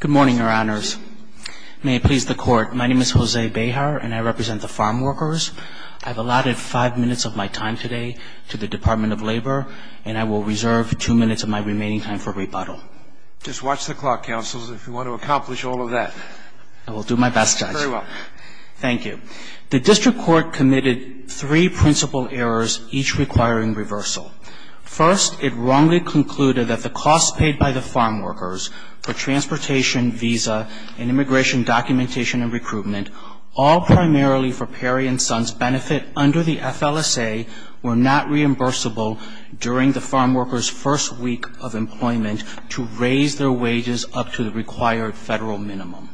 Good morning, Your Honors. May it please the Court, my name is Jose Bejar and I represent the farm workers. I've allotted 5 minutes of my time today to the Department of Labor and I will reserve 2 minutes of my remaining time for rebuttal. Just watch the clock, counsels, if you want to accomplish all of that. I will do my best, Judge. Very well. Thank you. The District Court committed 3 principal errors, each requiring reversal. First, it wrongly concluded that the costs paid by the farm workers for transportation, visa, and immigration documentation and recruitment, all primarily for Peri & Sons' benefit under the FLSA, were not reimbursable during the farm workers' first week of employment to raise their wages up to the required federal minimum.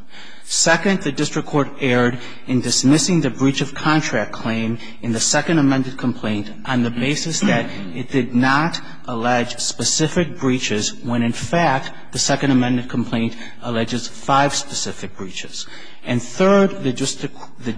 Second, the District Court erred in dismissing the breach of contract claim in the second amended complaint on the basis that it did not allege specific breaches when, in fact, the second amended complaint alleges 5 specific breaches. And third, the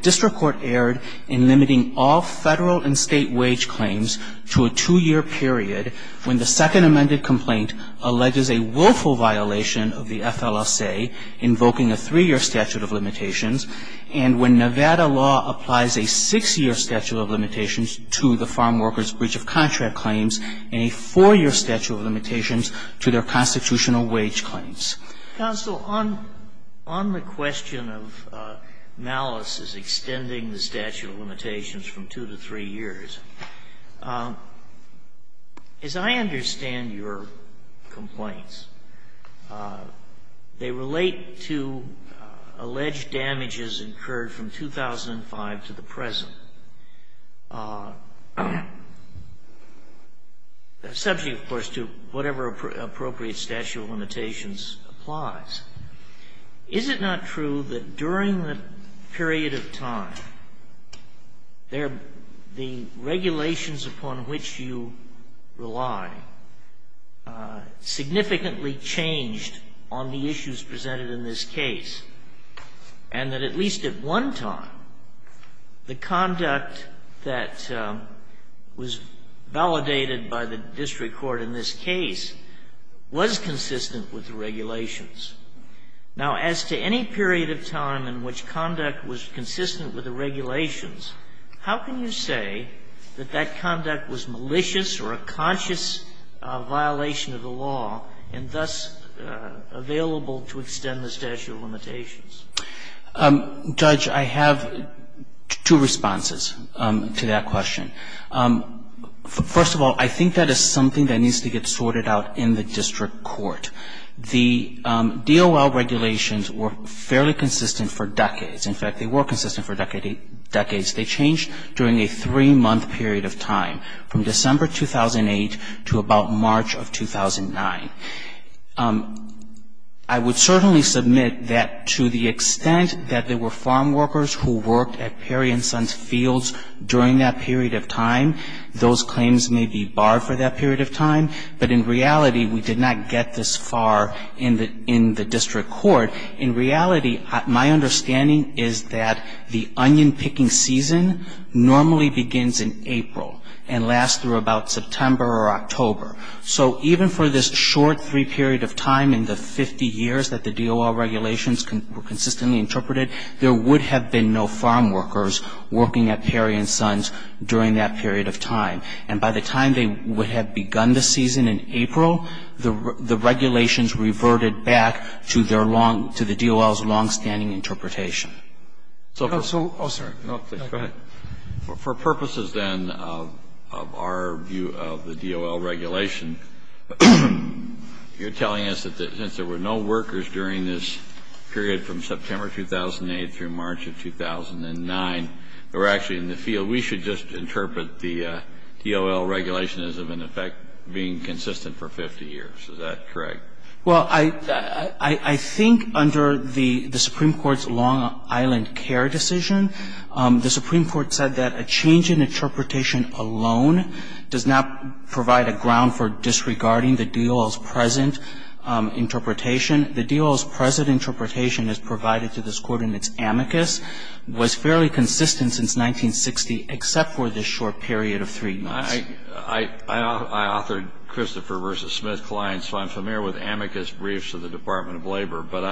District Court erred in limiting all federal and state wage claims to a 2-year period when the second amended complaint alleges a willful violation of the FLSA, invoking a 3-year statute of limitations, and when Nevada law applies a 6-year statute of limitations to the farm workers' breach of contract claims and a 4-year statute of limitations to their constitutional wage claims. Counsel, on the question of malice as extending the statute of limitations from 2 to 3 years, as I understand your complaints, they relate to alleged damages incurred from 2005 to the present. Subject, of course, to whatever appropriate statute of limitations applies, is it not true that during the period of time, the regulations upon which you rely significantly changed on the issues presented in this case? And that at least at one time, the conduct that was validated by the District Court in this case was consistent with the regulations. Now, as to any period of time in which conduct was consistent with the regulations, how can you say that that conduct was malicious or a conscious violation of the law and thus available to extend the statute of limitations? Judge, I have two responses to that question. First of all, I think that is something that needs to get sorted out in the District Court. The DOL regulations were fairly consistent for decades. In fact, they were consistent for decades. They changed during a three-month period of time, from December 2008 to about March of 2009. I would certainly submit that to the extent that there were farm workers who worked at Perry & Sons Fields during that period of time, those claims may be barred for that period of time. But in reality, we did not get this far in the District Court. In reality, my understanding is that the onion-picking season normally begins in April and lasts through about September or October. So even for this short three-period of time in the 50 years that the DOL regulations were consistently interpreted, there would have been no farm workers working at Perry & Sons during that period of time. And by the time they would have begun the season in April, the regulations reverted back to the DOL's longstanding interpretation. So for purposes, then, of our view of the DOL regulation, you're telling us that since there were no workers during this period from September 2008 through March of 2009 that were actually in the field, we should just interpret the DOL regulation as, in effect, being consistent for 50 years. Is that correct? Well, I think under the Supreme Court's Long Island Care decision, the Supreme Court said that a change in interpretation alone does not provide a ground for disregarding the DOL's present interpretation. The DOL's present interpretation as provided to this Court in its amicus was fairly consistent since 1960, except for this short period of three years. I authored Christopher v. Smith's client, so I'm familiar with amicus briefs of the Department of Labor. But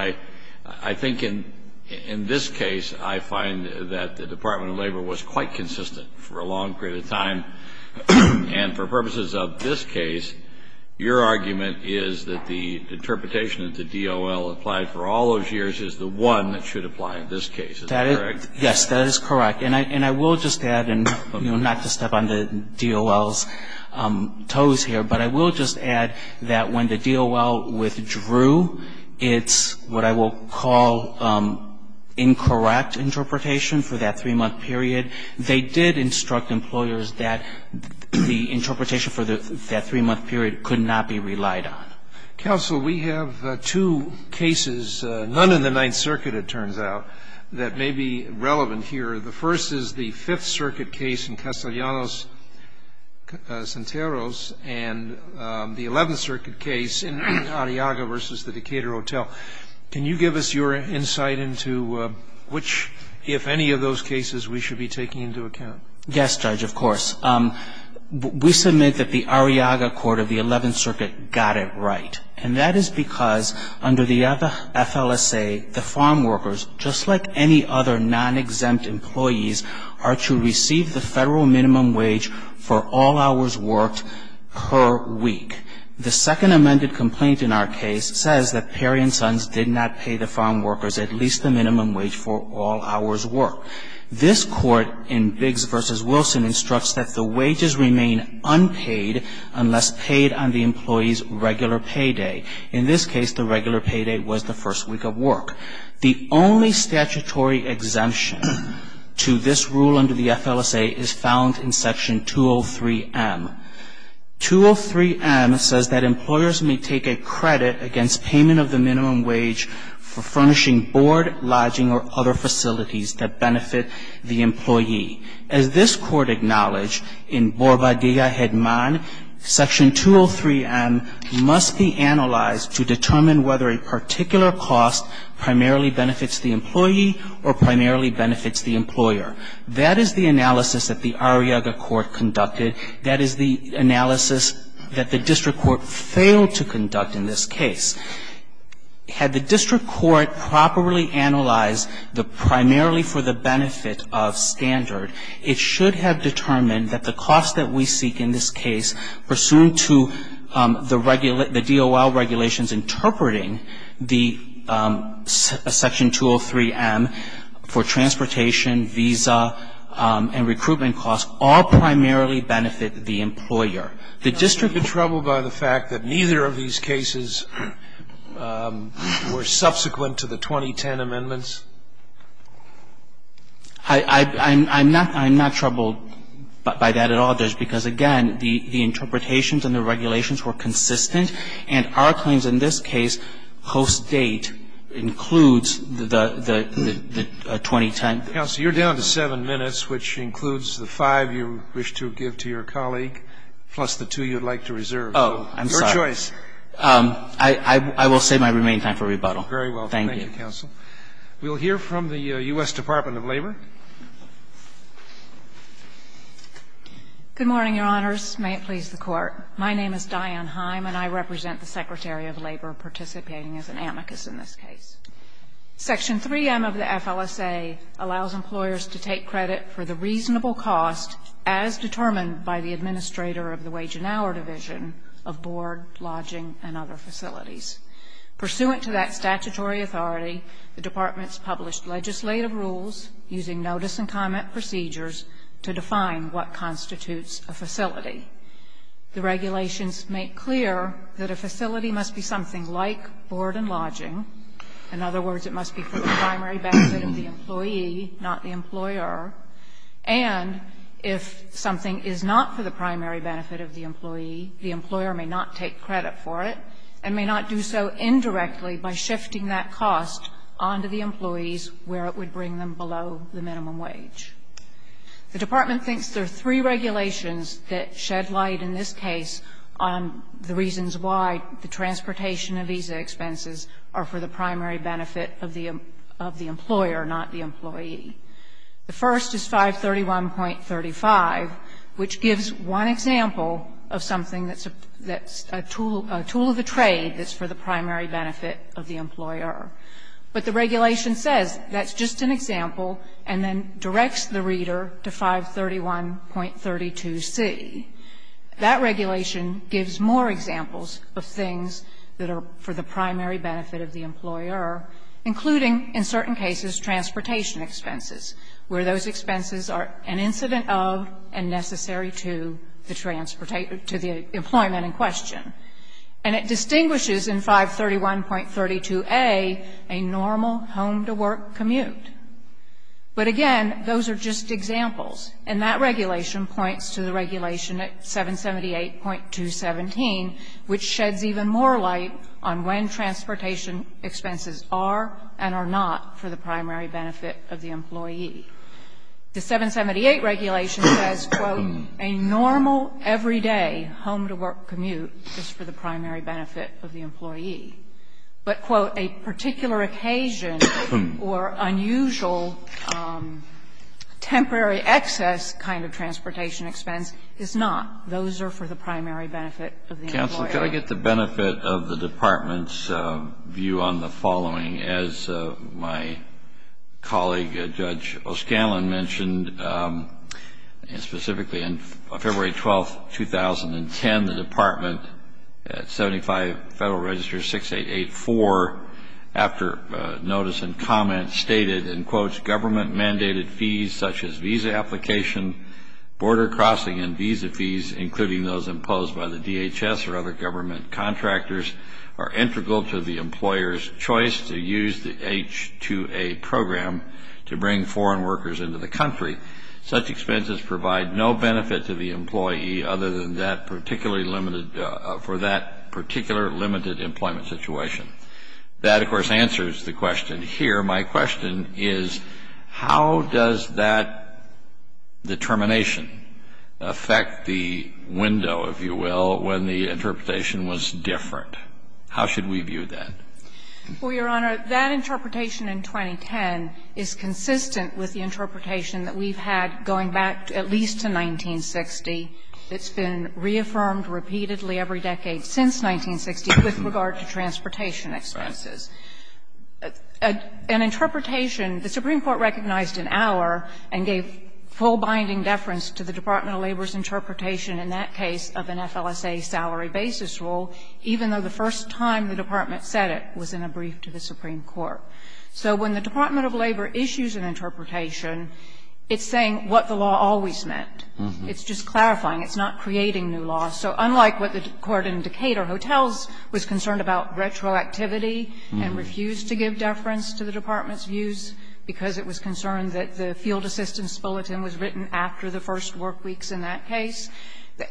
I think in this case, I find that the Department of Labor was quite consistent for a long period of time. And for purposes of this case, your argument is that the interpretation that the DOL applied for all those years is the one that should apply in this case. Is that correct? Yes, that is correct. And I will just add, not to step on the DOL's toes here, but I will just add that when the DOL withdrew, it's what I will call incorrect interpretation for that three-month period. They did instruct employers that the interpretation for that three-month period could not be relied on. Counsel, we have two cases, none of the Ninth Circuit, it turns out, that may be relevant here. The first is the Fifth Circuit case in Castellanos-Santeros and the Eleventh Circuit case in Arriaga v. the Decatur Hotel. Can you give us your insight into which, if any, of those cases we should be taking into account? Yes, Judge, of course. We submit that the Arriaga Court of the Eleventh Circuit got it right. And that is because under the FLSA, the farmworkers, just like any other non-exempt employees, are to receive the Federal minimum wage for all hours worked per week. The second amended complaint in our case says that Perry & Sons did not pay the farmworkers at least the minimum wage for all hours worked. This Court in Biggs v. Wilson instructs that the wages remain unpaid unless paid on the employee's regular payday. In this case, the regular payday was the first week of work. The only statutory exemption to this rule under the FLSA is found in Section 203M. 203M says that employers may take a credit against payment of the minimum wage for furnishing board, lodging, or other facilities that benefit the employee. As this Court acknowledged, in Borba Dilla-Hedman, Section 203M must be analyzed to determine whether a particular cost primarily benefits the employee or primarily benefits the employer. That is the analysis that the Arriaga Court conducted. That is the analysis that the district court failed to conduct in this case. Had the district court properly analyzed the primarily for the benefit of standard, it should have determined that the cost that we seek in this case pursuant to the DOL regulations interpreting the Section 203M for transportation, visa, and recruitment costs all primarily benefit the employer. The district is troubled by the fact that neither of these cases were subsequent to the 2010 amendments? I'm not troubled by that at all, Judge, because, again, the interpretations and the regulations were consistent. And our claims in this case host date includes the 2010 amendments. Counsel, you're down to 7 minutes, which includes the 5 you wish to give to your colleague plus the 2 you would like to reserve. Oh, I'm sorry. Your choice. I will save my remaining time for rebuttal. Very well. Thank you. Thank you, counsel. We will hear from the U.S. Department of Labor. Good morning, Your Honors. May it please the Court. My name is Diane Heim, and I represent the Secretary of Labor participating as an amicus in this case. Section 3M of the FLSA allows employers to take credit for the reasonable cost, as determined by the administrator of the wage and hour division, of board, lodging, and other facilities. Pursuant to that statutory authority, the departments published legislative rules using notice and comment procedures to define what constitutes a facility. The regulations make clear that a facility must be something like board and lodging. In other words, it must be for the primary benefit of the employee, not the employer. And if something is not for the primary benefit of the employee, the employer may not take credit for it and may not do so indirectly by shifting that cost on to the employees where it would bring them below the minimum wage. The department thinks there are three regulations that shed light in this case on the reasons why the transportation and visa expenses are for the primary benefit of the employer, not the employee. The first is 531.35, which gives one example of something that's a tool of the trade But the regulation says that's just an example and then directs the reader to 531.32c. That regulation gives more examples of things that are for the primary benefit of the employer, including, in certain cases, transportation expenses, where those expenses are an incident of and necessary to the transportation to the employment in question. And it distinguishes in 531.32a a normal home-to-work commute. But, again, those are just examples. And that regulation points to the regulation at 778.217, which sheds even more light on when transportation expenses are and are not for the primary benefit of the employee. The 778 regulation says, quote, a normal everyday home-to-work commute is for the primary benefit of the employee. But, quote, a particular occasion or unusual temporary excess kind of transportation expense is not. Those are for the primary benefit of the employer. Can I get the benefit of the Department's view on the following? As my colleague, Judge O'Scanlan, mentioned, and specifically on February 12, 2010, the Department at 75 Federal Register 6884, after notice and comment, stated, and quotes, government-mandated fees such as visa application, border crossing and visa fees, including those imposed by the DHS or other government contractors, are integral to the employer's choice to use the H-2A program to bring foreign workers into the country. Such expenses provide no benefit to the employee other than for that particular limited employment situation. That, of course, answers the question here. My question is, how does that determination affect the window, if you will, when the interpretation was different? How should we view that? Well, Your Honor, that interpretation in 2010 is consistent with the interpretation that we've had going back at least to 1960. It's been reaffirmed repeatedly every decade since 1960 with regard to transportation expenses. An interpretation, the Supreme Court recognized in Auer and gave full binding deference to the Department of Labor's interpretation in that case of an FLSA salary basis rule, even though the first time the department said it was in a brief to the Supreme Court. So when the Department of Labor issues an interpretation, it's saying what the law always meant. It's just clarifying. It's not creating new law. So unlike what the Court in Decatur Hotels was concerned about retroactivity and refused to give deference to the department's views because it was concerned that the field assistance bulletin was written after the first work weeks in that case,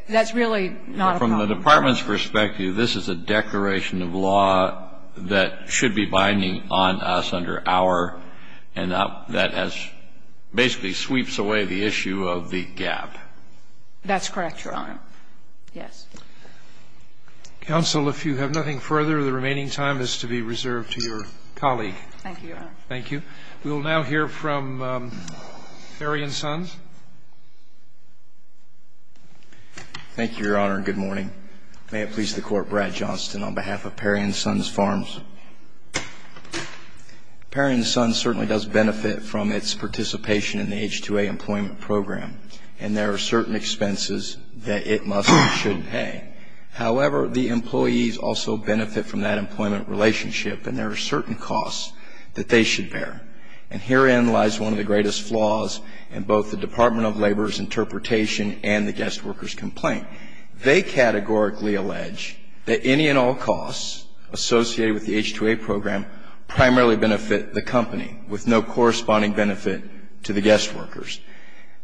that's really not a problem. From the department's perspective, this is a declaration of law that should be binding on us under Auer and that has basically sweeps away the issue of the gap. That's correct, Your Honor. Yes. Counsel, if you have nothing further, the remaining time is to be reserved to your Thank you, Your Honor. Thank you. We will now hear from Perry & Sons. Thank you, Your Honor, and good morning. May it please the Court, Brad Johnston on behalf of Perry & Sons Farms. Perry & Sons certainly does benefit from its participation in the H-2A employment program, and there are certain expenses that it must and should pay. However, the employees also benefit from that employment relationship, and there are certain costs that they should bear. And herein lies one of the greatest flaws in both the Department of Labor's interpretation and the guest workers' complaint. They categorically allege that any and all costs associated with the H-2A program primarily benefit the company, with no corresponding benefit to the guest workers.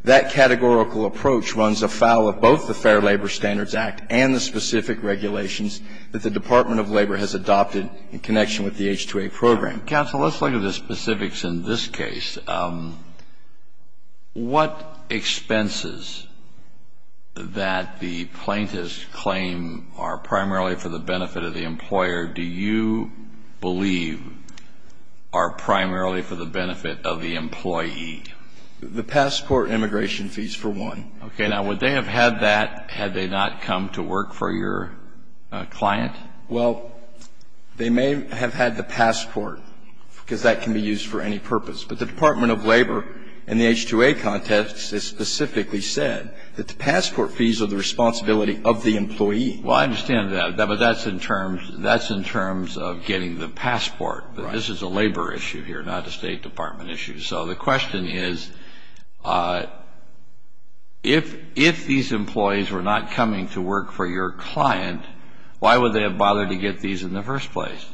That categorical approach runs afoul of both the Fair Labor Standards Act and the specific regulations that the Department of Labor has adopted in connection with the H-2A program. Counsel, let's look at the specifics in this case. What expenses that the plaintiffs claim are primarily for the benefit of the employer do you believe are primarily for the benefit of the employee? The passport and immigration fees, for one. Okay. Now, would they have had that had they not come to work for your client? Well, they may have had the passport, because that can be used for any purpose. But the Department of Labor, in the H-2A context, has specifically said that the passport fees are the responsibility of the employee. Well, I understand that, but that's in terms of getting the passport. This is a labor issue here, not a State Department issue. So the question is, if these employees were not coming to work for your client, why would they have bothered to get these in the first place?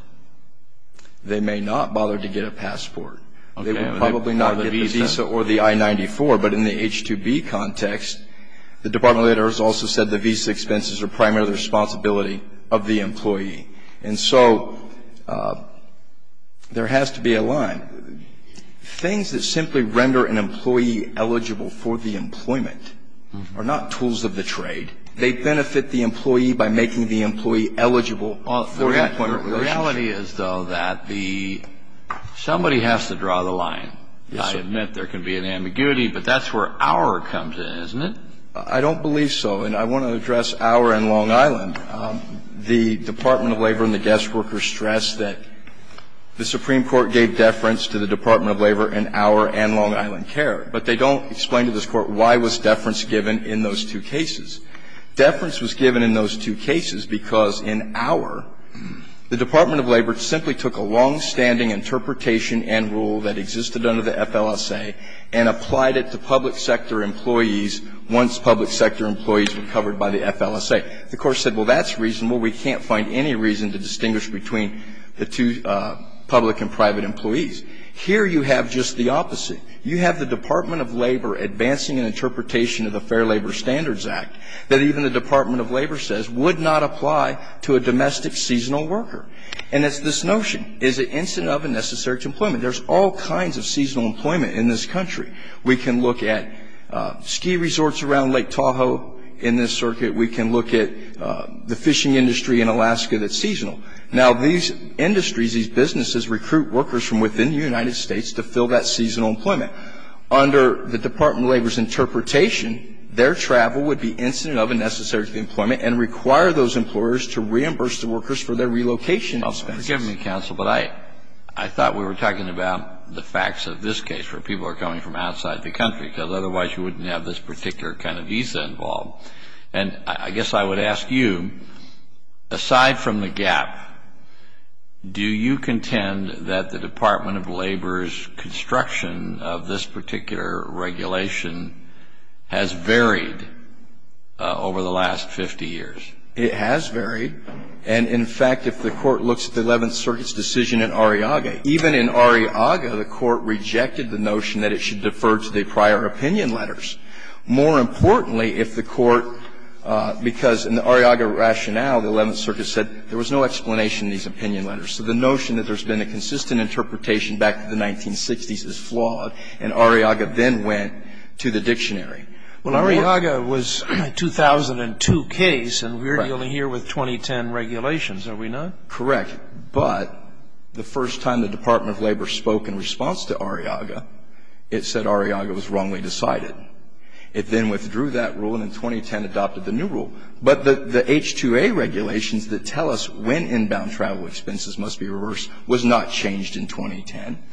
They may not bother to get a passport. They would probably not get the visa or the I-94, but in the H-2B context, the Department of Labor has also said the visa expenses are primarily the responsibility of the employee. And so there has to be a line. Things that simply render an employee eligible for the employment are not tools of the trade. They benefit the employee by making the employee eligible for employment. The reality is, though, that somebody has to draw the line. I admit there can be an ambiguity, but that's where Auer comes in, isn't it? I don't believe so, and I want to address Auer and Long Island. The Department of Labor and the guest workers stress that the Supreme Court gave deference to the Department of Labor in Auer and Long Island care, but they don't explain to this Court why was deference given in those two cases. Deference was given in those two cases because in Auer, the Department of Labor simply took a longstanding interpretation and rule that existed under the FLSA and applied it to public sector employees once public sector employees were covered by the FLSA. The Court said, well, that's reasonable. We can't find any reason to distinguish between the two public and private employees. Here you have just the opposite. You have the Department of Labor advancing an interpretation of the Fair Labor Standards Act that even the Department of Labor says would not apply to a domestic seasonal worker. And it's this notion. Is it incident of and necessary to employment? There's all kinds of seasonal employment in this country. We can look at ski resorts around Lake Tahoe in this circuit. We can look at the fishing industry in Alaska that's seasonal. Now, these industries, these businesses recruit workers from within the United States to fill that seasonal employment. Under the Department of Labor's interpretation, their travel would be incident of and necessary to employment and require those employers to reimburse the workers for their relocation expenses. Excuse me, counsel, but I thought we were talking about the facts of this case, where people are coming from outside the country, because otherwise you wouldn't have this particular kind of visa involved. And I guess I would ask you, aside from the gap, do you contend that the Department of Labor's construction of this particular regulation has varied over the last 50 years? It has varied. And, in fact, if the Court looks at the Eleventh Circuit's decision in Arriaga, even in Arriaga the Court rejected the notion that it should defer to the prior opinion letters. More importantly, if the Court, because in the Arriaga rationale, the Eleventh Circuit said there was no explanation in these opinion letters. So the notion that there's been a consistent interpretation back to the 1960s is flawed, and Arriaga then went to the dictionary. Well, Arriaga was a 2002 case, and we're dealing here with 2010 regulations, are we not? Correct. But the first time the Department of Labor spoke in response to Arriaga, it said Arriaga was wrongly decided. It then withdrew that rule, and in 2010 adopted the new rule. But the H-2A regulations that tell us when inbound travel expenses must be reversed was not changed in 2010.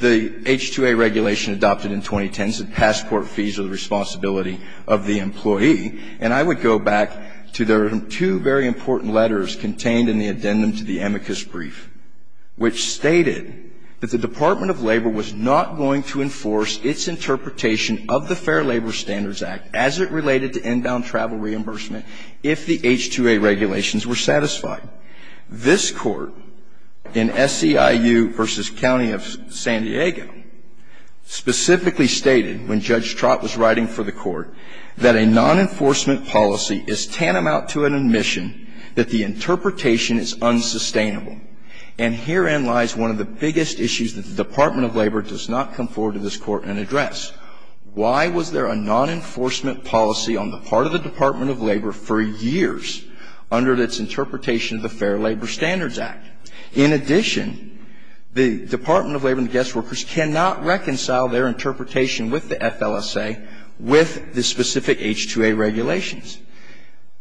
The H-2A regulation adopted in 2010 said passport fees are the responsibility of the employee. And I would go back to their two very important letters contained in the addendum to the amicus brief, which stated that the Department of Labor was not going to enforce its interpretation of the Fair Labor Standards Act as it related to inbound travel reimbursement if the H-2A regulations were satisfied. This Court in SEIU v. County of San Diego specifically stated, when Judge Trott was writing for the Court, that a non-enforcement policy is tantamount to an admission that the interpretation is unsustainable. And herein lies one of the biggest issues that the Department of Labor does not come forward to this Court and address. Why was there a non-enforcement policy on the part of the Department of Labor for years under its interpretation of the Fair Labor Standards Act? In addition, the Department of Labor and the guest workers cannot reconcile their interpretation with the FLSA, with the specific H-2A regulations.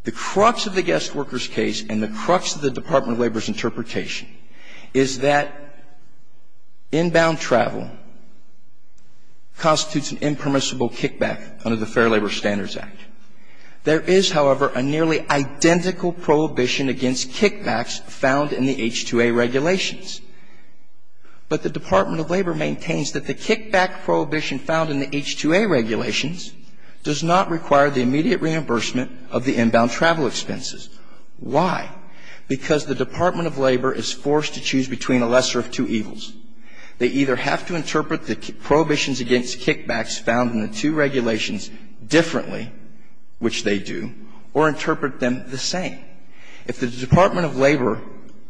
The crux of the guest workers case and the crux of the Department of Labor's interpretation is that inbound travel constitutes an impermissible kickback under the Fair Labor Standards Act. There is, however, a nearly identical prohibition against kickbacks found in the H-2A regulations. But the Department of Labor maintains that the kickback prohibition found in the H-2A regulations does not require the immediate reimbursement of the inbound travel expenses. Why? Because the Department of Labor is forced to choose between a lesser of two evils. They either have to interpret the prohibitions against kickbacks found in the two regulations differently, which they do, or interpret them the same. If the Department of Labor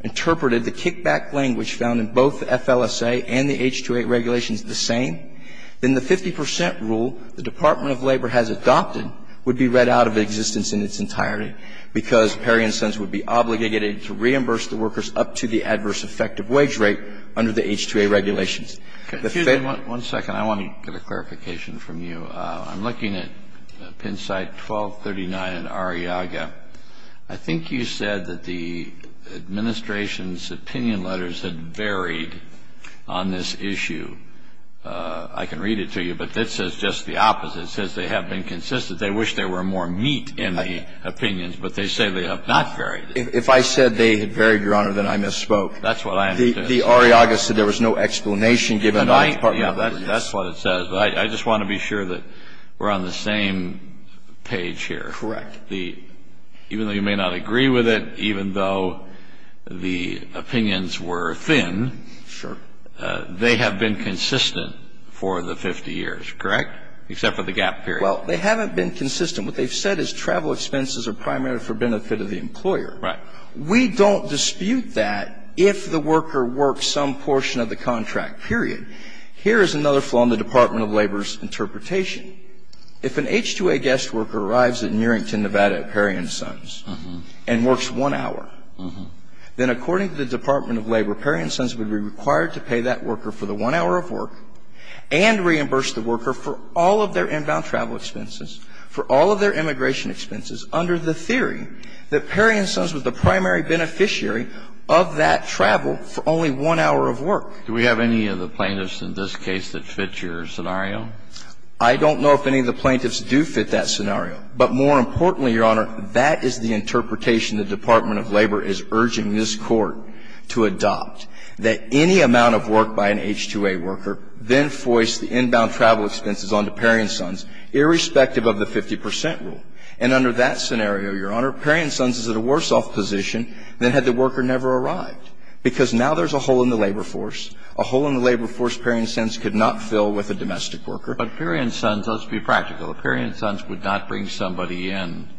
interpreted the kickback language found in both the FLSA and the H-2A regulations the same, then the 50 percent rule the Department of Labor has adopted would be read out of existence in its entirety, because Perry & Sons would be obligated to reimburse the workers up to the adverse effective wage rate under the H-2A regulations. Kennedy. One second. I want to get a clarification from you. I'm looking at Pennside 1239 and Arriaga. I think you said that the administration's opinion letters had varied on this issue. I can read it to you, but it says just the opposite. It says they have been consistent. They wish there were more meat in the opinions, but they say they have not varied. If I said they had varied, Your Honor, then I misspoke. That's what I understood. The Arriaga said there was no explanation given by the Department of Labor. That's what it says. But I just want to be sure that we're on the same page here. Correct. Even though you may not agree with it, even though the opinions were thin. Sure. They have been consistent for the 50 years, correct? Except for the gap period. Well, they haven't been consistent. What they've said is travel expenses are primarily for benefit of the employer. Right. We don't dispute that if the worker works some portion of the contract, period. Here is another flaw in the Department of Labor's interpretation. If an H-2A guest worker arrives at Nearington, Nevada at Perry & Sons and works one hour, then according to the Department of Labor, Perry & Sons would be required to pay that worker for the one hour of work and reimburse the worker for all of their inbound travel expenses, for all of their immigration expenses under the theory that Perry & Sons was the primary beneficiary of that travel for only one hour of work. Do we have any of the plaintiffs in this case that fit your scenario? I don't know if any of the plaintiffs do fit that scenario. But more importantly, Your Honor, that is the interpretation the Department of Labor is urging this Court to adopt, that any amount of work by an H-2A worker then foists the inbound travel expenses onto Perry & Sons, irrespective of the 50 percent rule. And under that scenario, Your Honor, Perry & Sons is at a worse-off position than had the worker never arrived, because now there's a hole in the labor force, a hole in the labor force Perry & Sons could not fill with a domestic worker. But Perry & Sons, let's be practical, Perry & Sons would not bring somebody in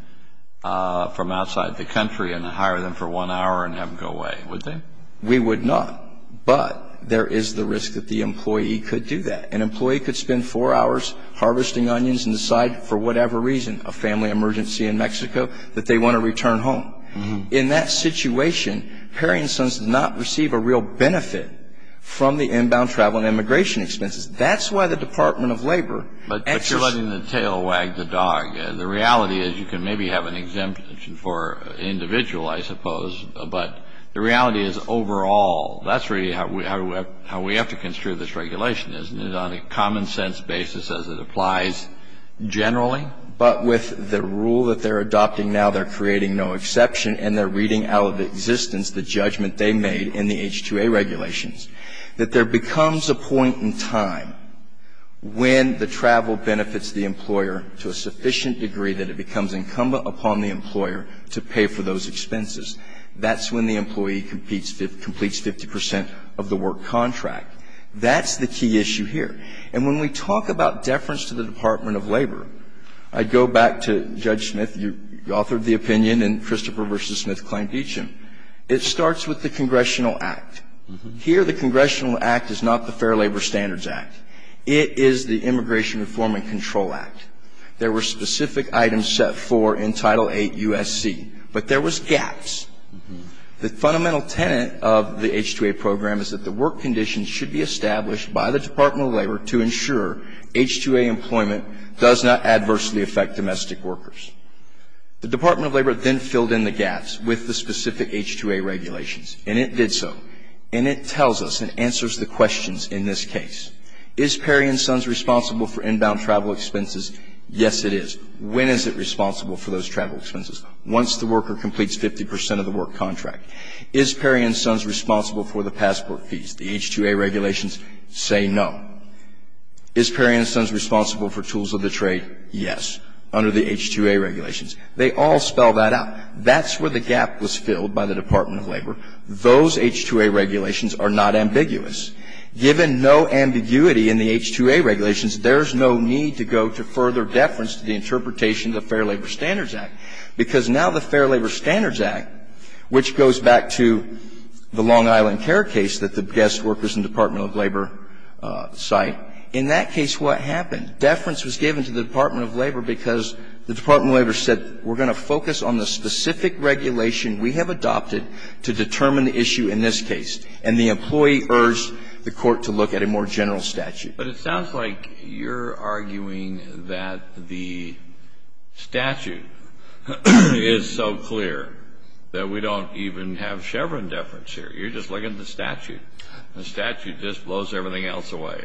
from outside the country and hire them for one hour and have them go away, would they? We would not. But there is the risk that the employee could do that. An employee could spend four hours harvesting onions and decide, for whatever reason, a family emergency in Mexico, that they want to return home. In that situation, Perry & Sons does not receive a real benefit from the inbound travel and immigration expenses. That's why the Department of Labor actually ---- But you're letting the tail wag the dog. The reality is you can maybe have an exemption for an individual, I suppose. But the reality is, overall, that's really how we have to construe this regulation, isn't it, on a common-sense basis as it applies generally? But with the rule that they're adopting now, they're creating no exception and they're reading out of existence the judgment they made in the H-2A regulations, that there becomes a point in time when the travel benefits the employer to a sufficient degree that it becomes incumbent upon the employer to pay for those expenses. That's when the employee completes 50 percent of the work contract. That's the key issue here. And when we talk about deference to the Department of Labor, I go back to Judge Smith. You authored the opinion in Christopher v. Smith's claim to each of them. It starts with the Congressional Act. Here, the Congressional Act is not the Fair Labor Standards Act. It is the Immigration Reform and Control Act. There were specific items set for in Title VIII U.S.C., but there was gaps. The fundamental tenet of the H-2A program is that the work conditions should be to ensure H-2A employment does not adversely affect domestic workers. The Department of Labor then filled in the gaps with the specific H-2A regulations, and it did so. And it tells us and answers the questions in this case. Is Perry & Sons responsible for inbound travel expenses? Yes, it is. When is it responsible for those travel expenses? Once the worker completes 50 percent of the work contract. Is Perry & Sons responsible for the passport fees? The H-2A regulations say no. Is Perry & Sons responsible for tools of the trade? Yes, under the H-2A regulations. They all spell that out. That's where the gap was filled by the Department of Labor. Those H-2A regulations are not ambiguous. Given no ambiguity in the H-2A regulations, there's no need to go to further deference to the interpretation of the Fair Labor Standards Act. Because now the Fair Labor Standards Act, which goes back to the Long Island Care case that the guest workers in the Department of Labor cite, in that case what happened? Deference was given to the Department of Labor because the Department of Labor said, we're going to focus on the specific regulation we have adopted to determine the issue in this case. And the employee urged the court to look at a more general statute. But it sounds like you're arguing that the statute is so clear that we don't even have Chevron deference here. You're just looking at the statute. The statute just blows everything else away.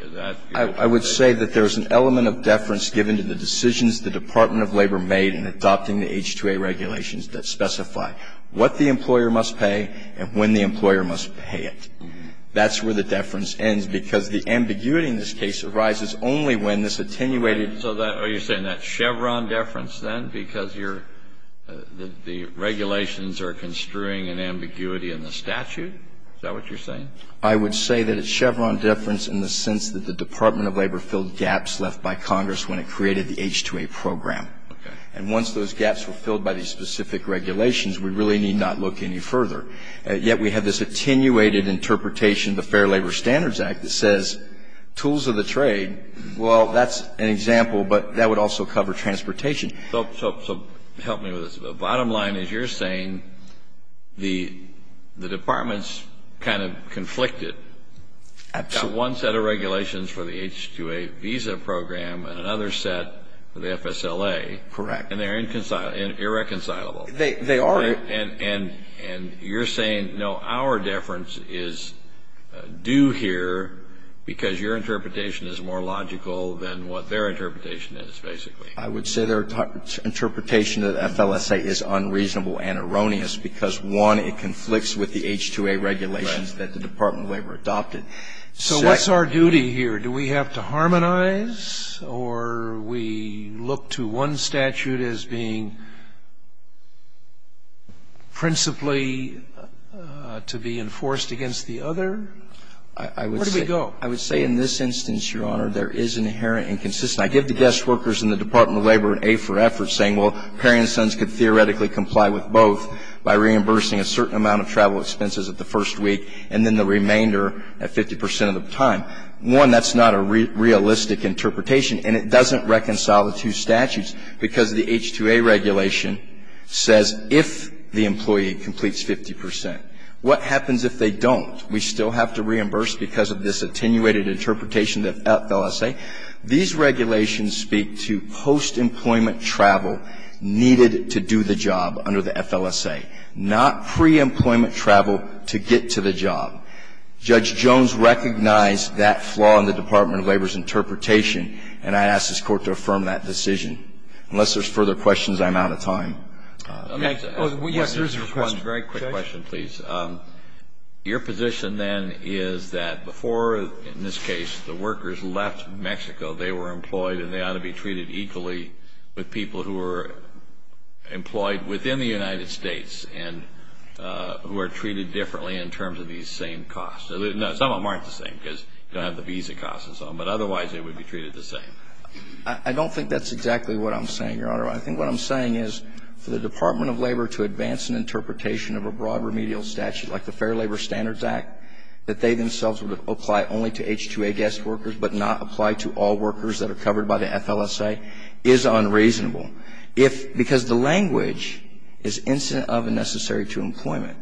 I would say that there's an element of deference given to the decisions the Department of Labor made in adopting the H-2A regulations that specify what the employer must pay and when the employer must pay it. That's where the deference ends because the ambiguity in this case arises only when this attenuated. So you're saying that Chevron deference then because the regulations are construing an ambiguity in the statute? Is that what you're saying? I would say that it's Chevron deference in the sense that the Department of Labor filled gaps left by Congress when it created the H-2A program. And once those gaps were filled by these specific regulations, we really need not look any further. Yet we have this attenuated interpretation of the Fair Labor Standards Act that says, tools of the trade, well, that's an example, but that would also cover transportation. So help me with this. So the bottom line is you're saying the Department's kind of conflicted. Absolutely. Got one set of regulations for the H-2A visa program and another set for the FSLA. Correct. And they're irreconcilable. They are. And you're saying, no, our deference is due here because your interpretation is more logical than what their interpretation is, basically. I would say their interpretation of the FLSA is unreasonable and erroneous because, one, it conflicts with the H-2A regulations that the Department of Labor adopted. So what's our duty here? Do we have to harmonize? Or we look to one statute as being principally to be enforced against the other? Where do we go? I would say in this instance, Your Honor, there is inherent inconsistency. I give the guest workers in the Department of Labor an A for effort saying, well, parents and sons could theoretically comply with both by reimbursing a certain amount of travel expenses at the first week and then the remainder at 50 percent of the time. One, that's not a realistic interpretation, and it doesn't reconcile the two statutes because the H-2A regulation says if the employee completes 50 percent. What happens if they don't? We still have to reimburse because of this attenuated interpretation of the FLSA. These regulations speak to post-employment travel needed to do the job under the FLSA, not pre-employment travel to get to the job. Judge Jones recognized that flaw in the Department of Labor's interpretation, and I ask this Court to affirm that decision. Unless there's further questions, I'm out of time. Let me ask you one very quick question, please. Your position then is that before, in this case, the workers left Mexico, they were employed and they ought to be treated equally with people who were employed within the United States and who are treated differently in terms of these same costs. No, some of them aren't the same because you don't have the visa costs and so on, but otherwise they would be treated the same. I don't think that's exactly what I'm saying, Your Honor. I think what I'm saying is for the Department of Labor to advance an interpretation of a broad remedial statute like the Fair Labor Standards Act, that they themselves would apply only to H-2A guest workers but not apply to all workers that are covered by the FLSA, is unreasonable. If, because the language is incident of and necessary to employment.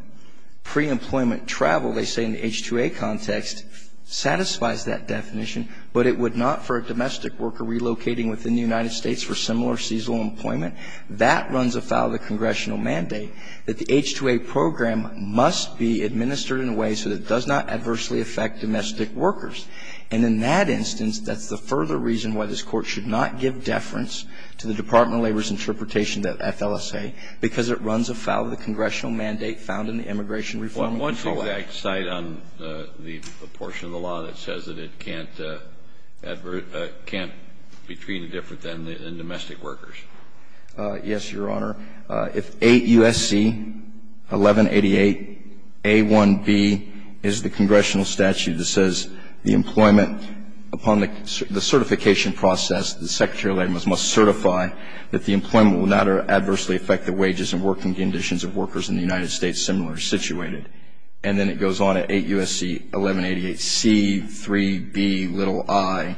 Pre-employment travel, they say in the H-2A context, satisfies that definition, but it would not for a domestic worker relocating within the United States for similar seasonal employment. That runs afoul of the congressional mandate that the H-2A program must be administered in a way so that it does not adversely affect domestic workers. And in that instance, that's the further reason why this Court should not give deference to the Department of Labor's interpretation of FLSA, because it runs afoul of the congressional mandate found in the Immigration Reform and Control Act. One exact site on the portion of the law that says that it can't be treated different than domestic workers. Yes, Your Honor. If 8 U.S.C. 1188 A.1.B is the congressional statute that says the employment upon the certification process, the Secretary of Labor must certify that the employment will not adversely affect the wages and working conditions of workers in the United States similarly situated. And then it goes on at 8 U.S.C. 1188 C.3.B.i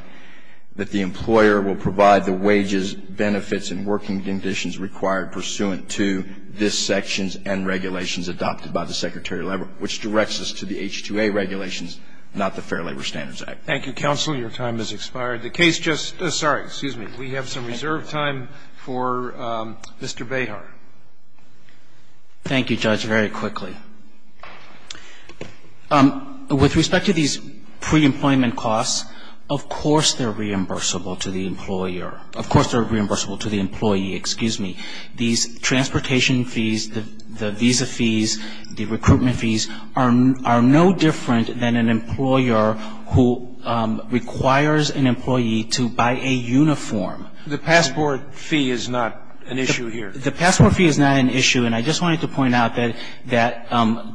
that the employer will provide the wages, benefits and working conditions required pursuant to this section and regulations adopted by the Secretary of Labor, which directs us to the H-2A regulations, not the Fair Labor Standards Act. Thank you, counsel. Your time has expired. The case just – sorry, excuse me. We have some reserved time for Mr. Behar. Thank you, Judge. Very quickly. With respect to these pre-employment costs, of course they're reimbursable to the employer. Of course they're reimbursable to the employee. Excuse me. These transportation fees, the visa fees, the recruitment fees are no different than an employer who requires an employee to buy a uniform. The passport fee is not an issue here. The passport fee is not an issue. And I just wanted to point out that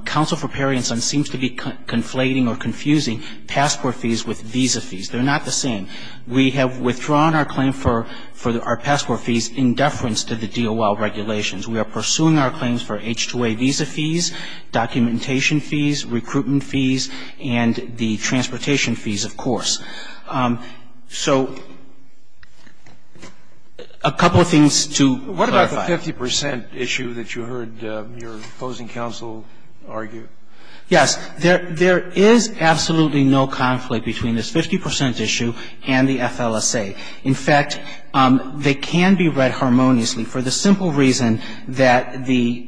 counsel for Perry and Sons seems to be conflating or confusing passport fees with visa fees. They're not the same. We have withdrawn our claim for our passport fees in deference to the DOL regulations. We are pursuing our claims for H-2A visa fees, documentation fees, recruitment fees, and the transportation fees, of course. So a couple of things to clarify. What about the 50 percent issue that you heard your opposing counsel argue? Yes. There is absolutely no conflict between this 50 percent issue and the FLSA. In fact, they can be read harmoniously for the simple reason that the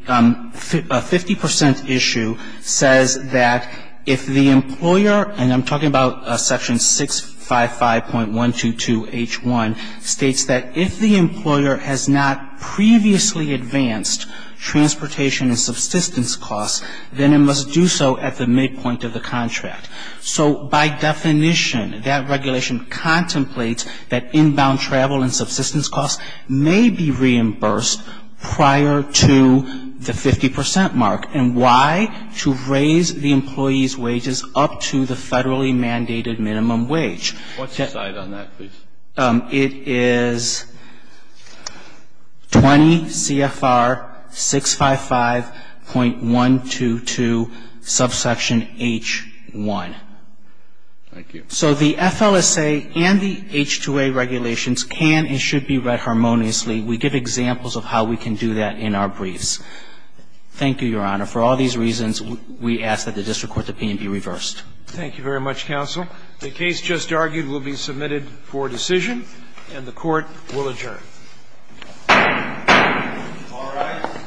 50 percent issue says that if the employer, and I'm talking about section 655.122H1, states that if the employer has not previously advanced transportation and subsistence costs, then it must do so at the midpoint of the contract. So by definition, that regulation contemplates that inbound travel and subsistence costs may be reimbursed prior to the 50 percent mark. And why? To raise the employee's wages up to the federally mandated minimum wage. What's the side on that, please? It is 20 CFR 655.122 subsection H1. Thank you. So the FLSA and the H-2A regulations can and should be read harmoniously. We give examples of how we can do that in our briefs. Thank you, Your Honor. For all these reasons, we ask that the district court opinion be reversed. Thank you very much, counsel. The case just argued will be submitted for decision, and the court will adjourn. All rise.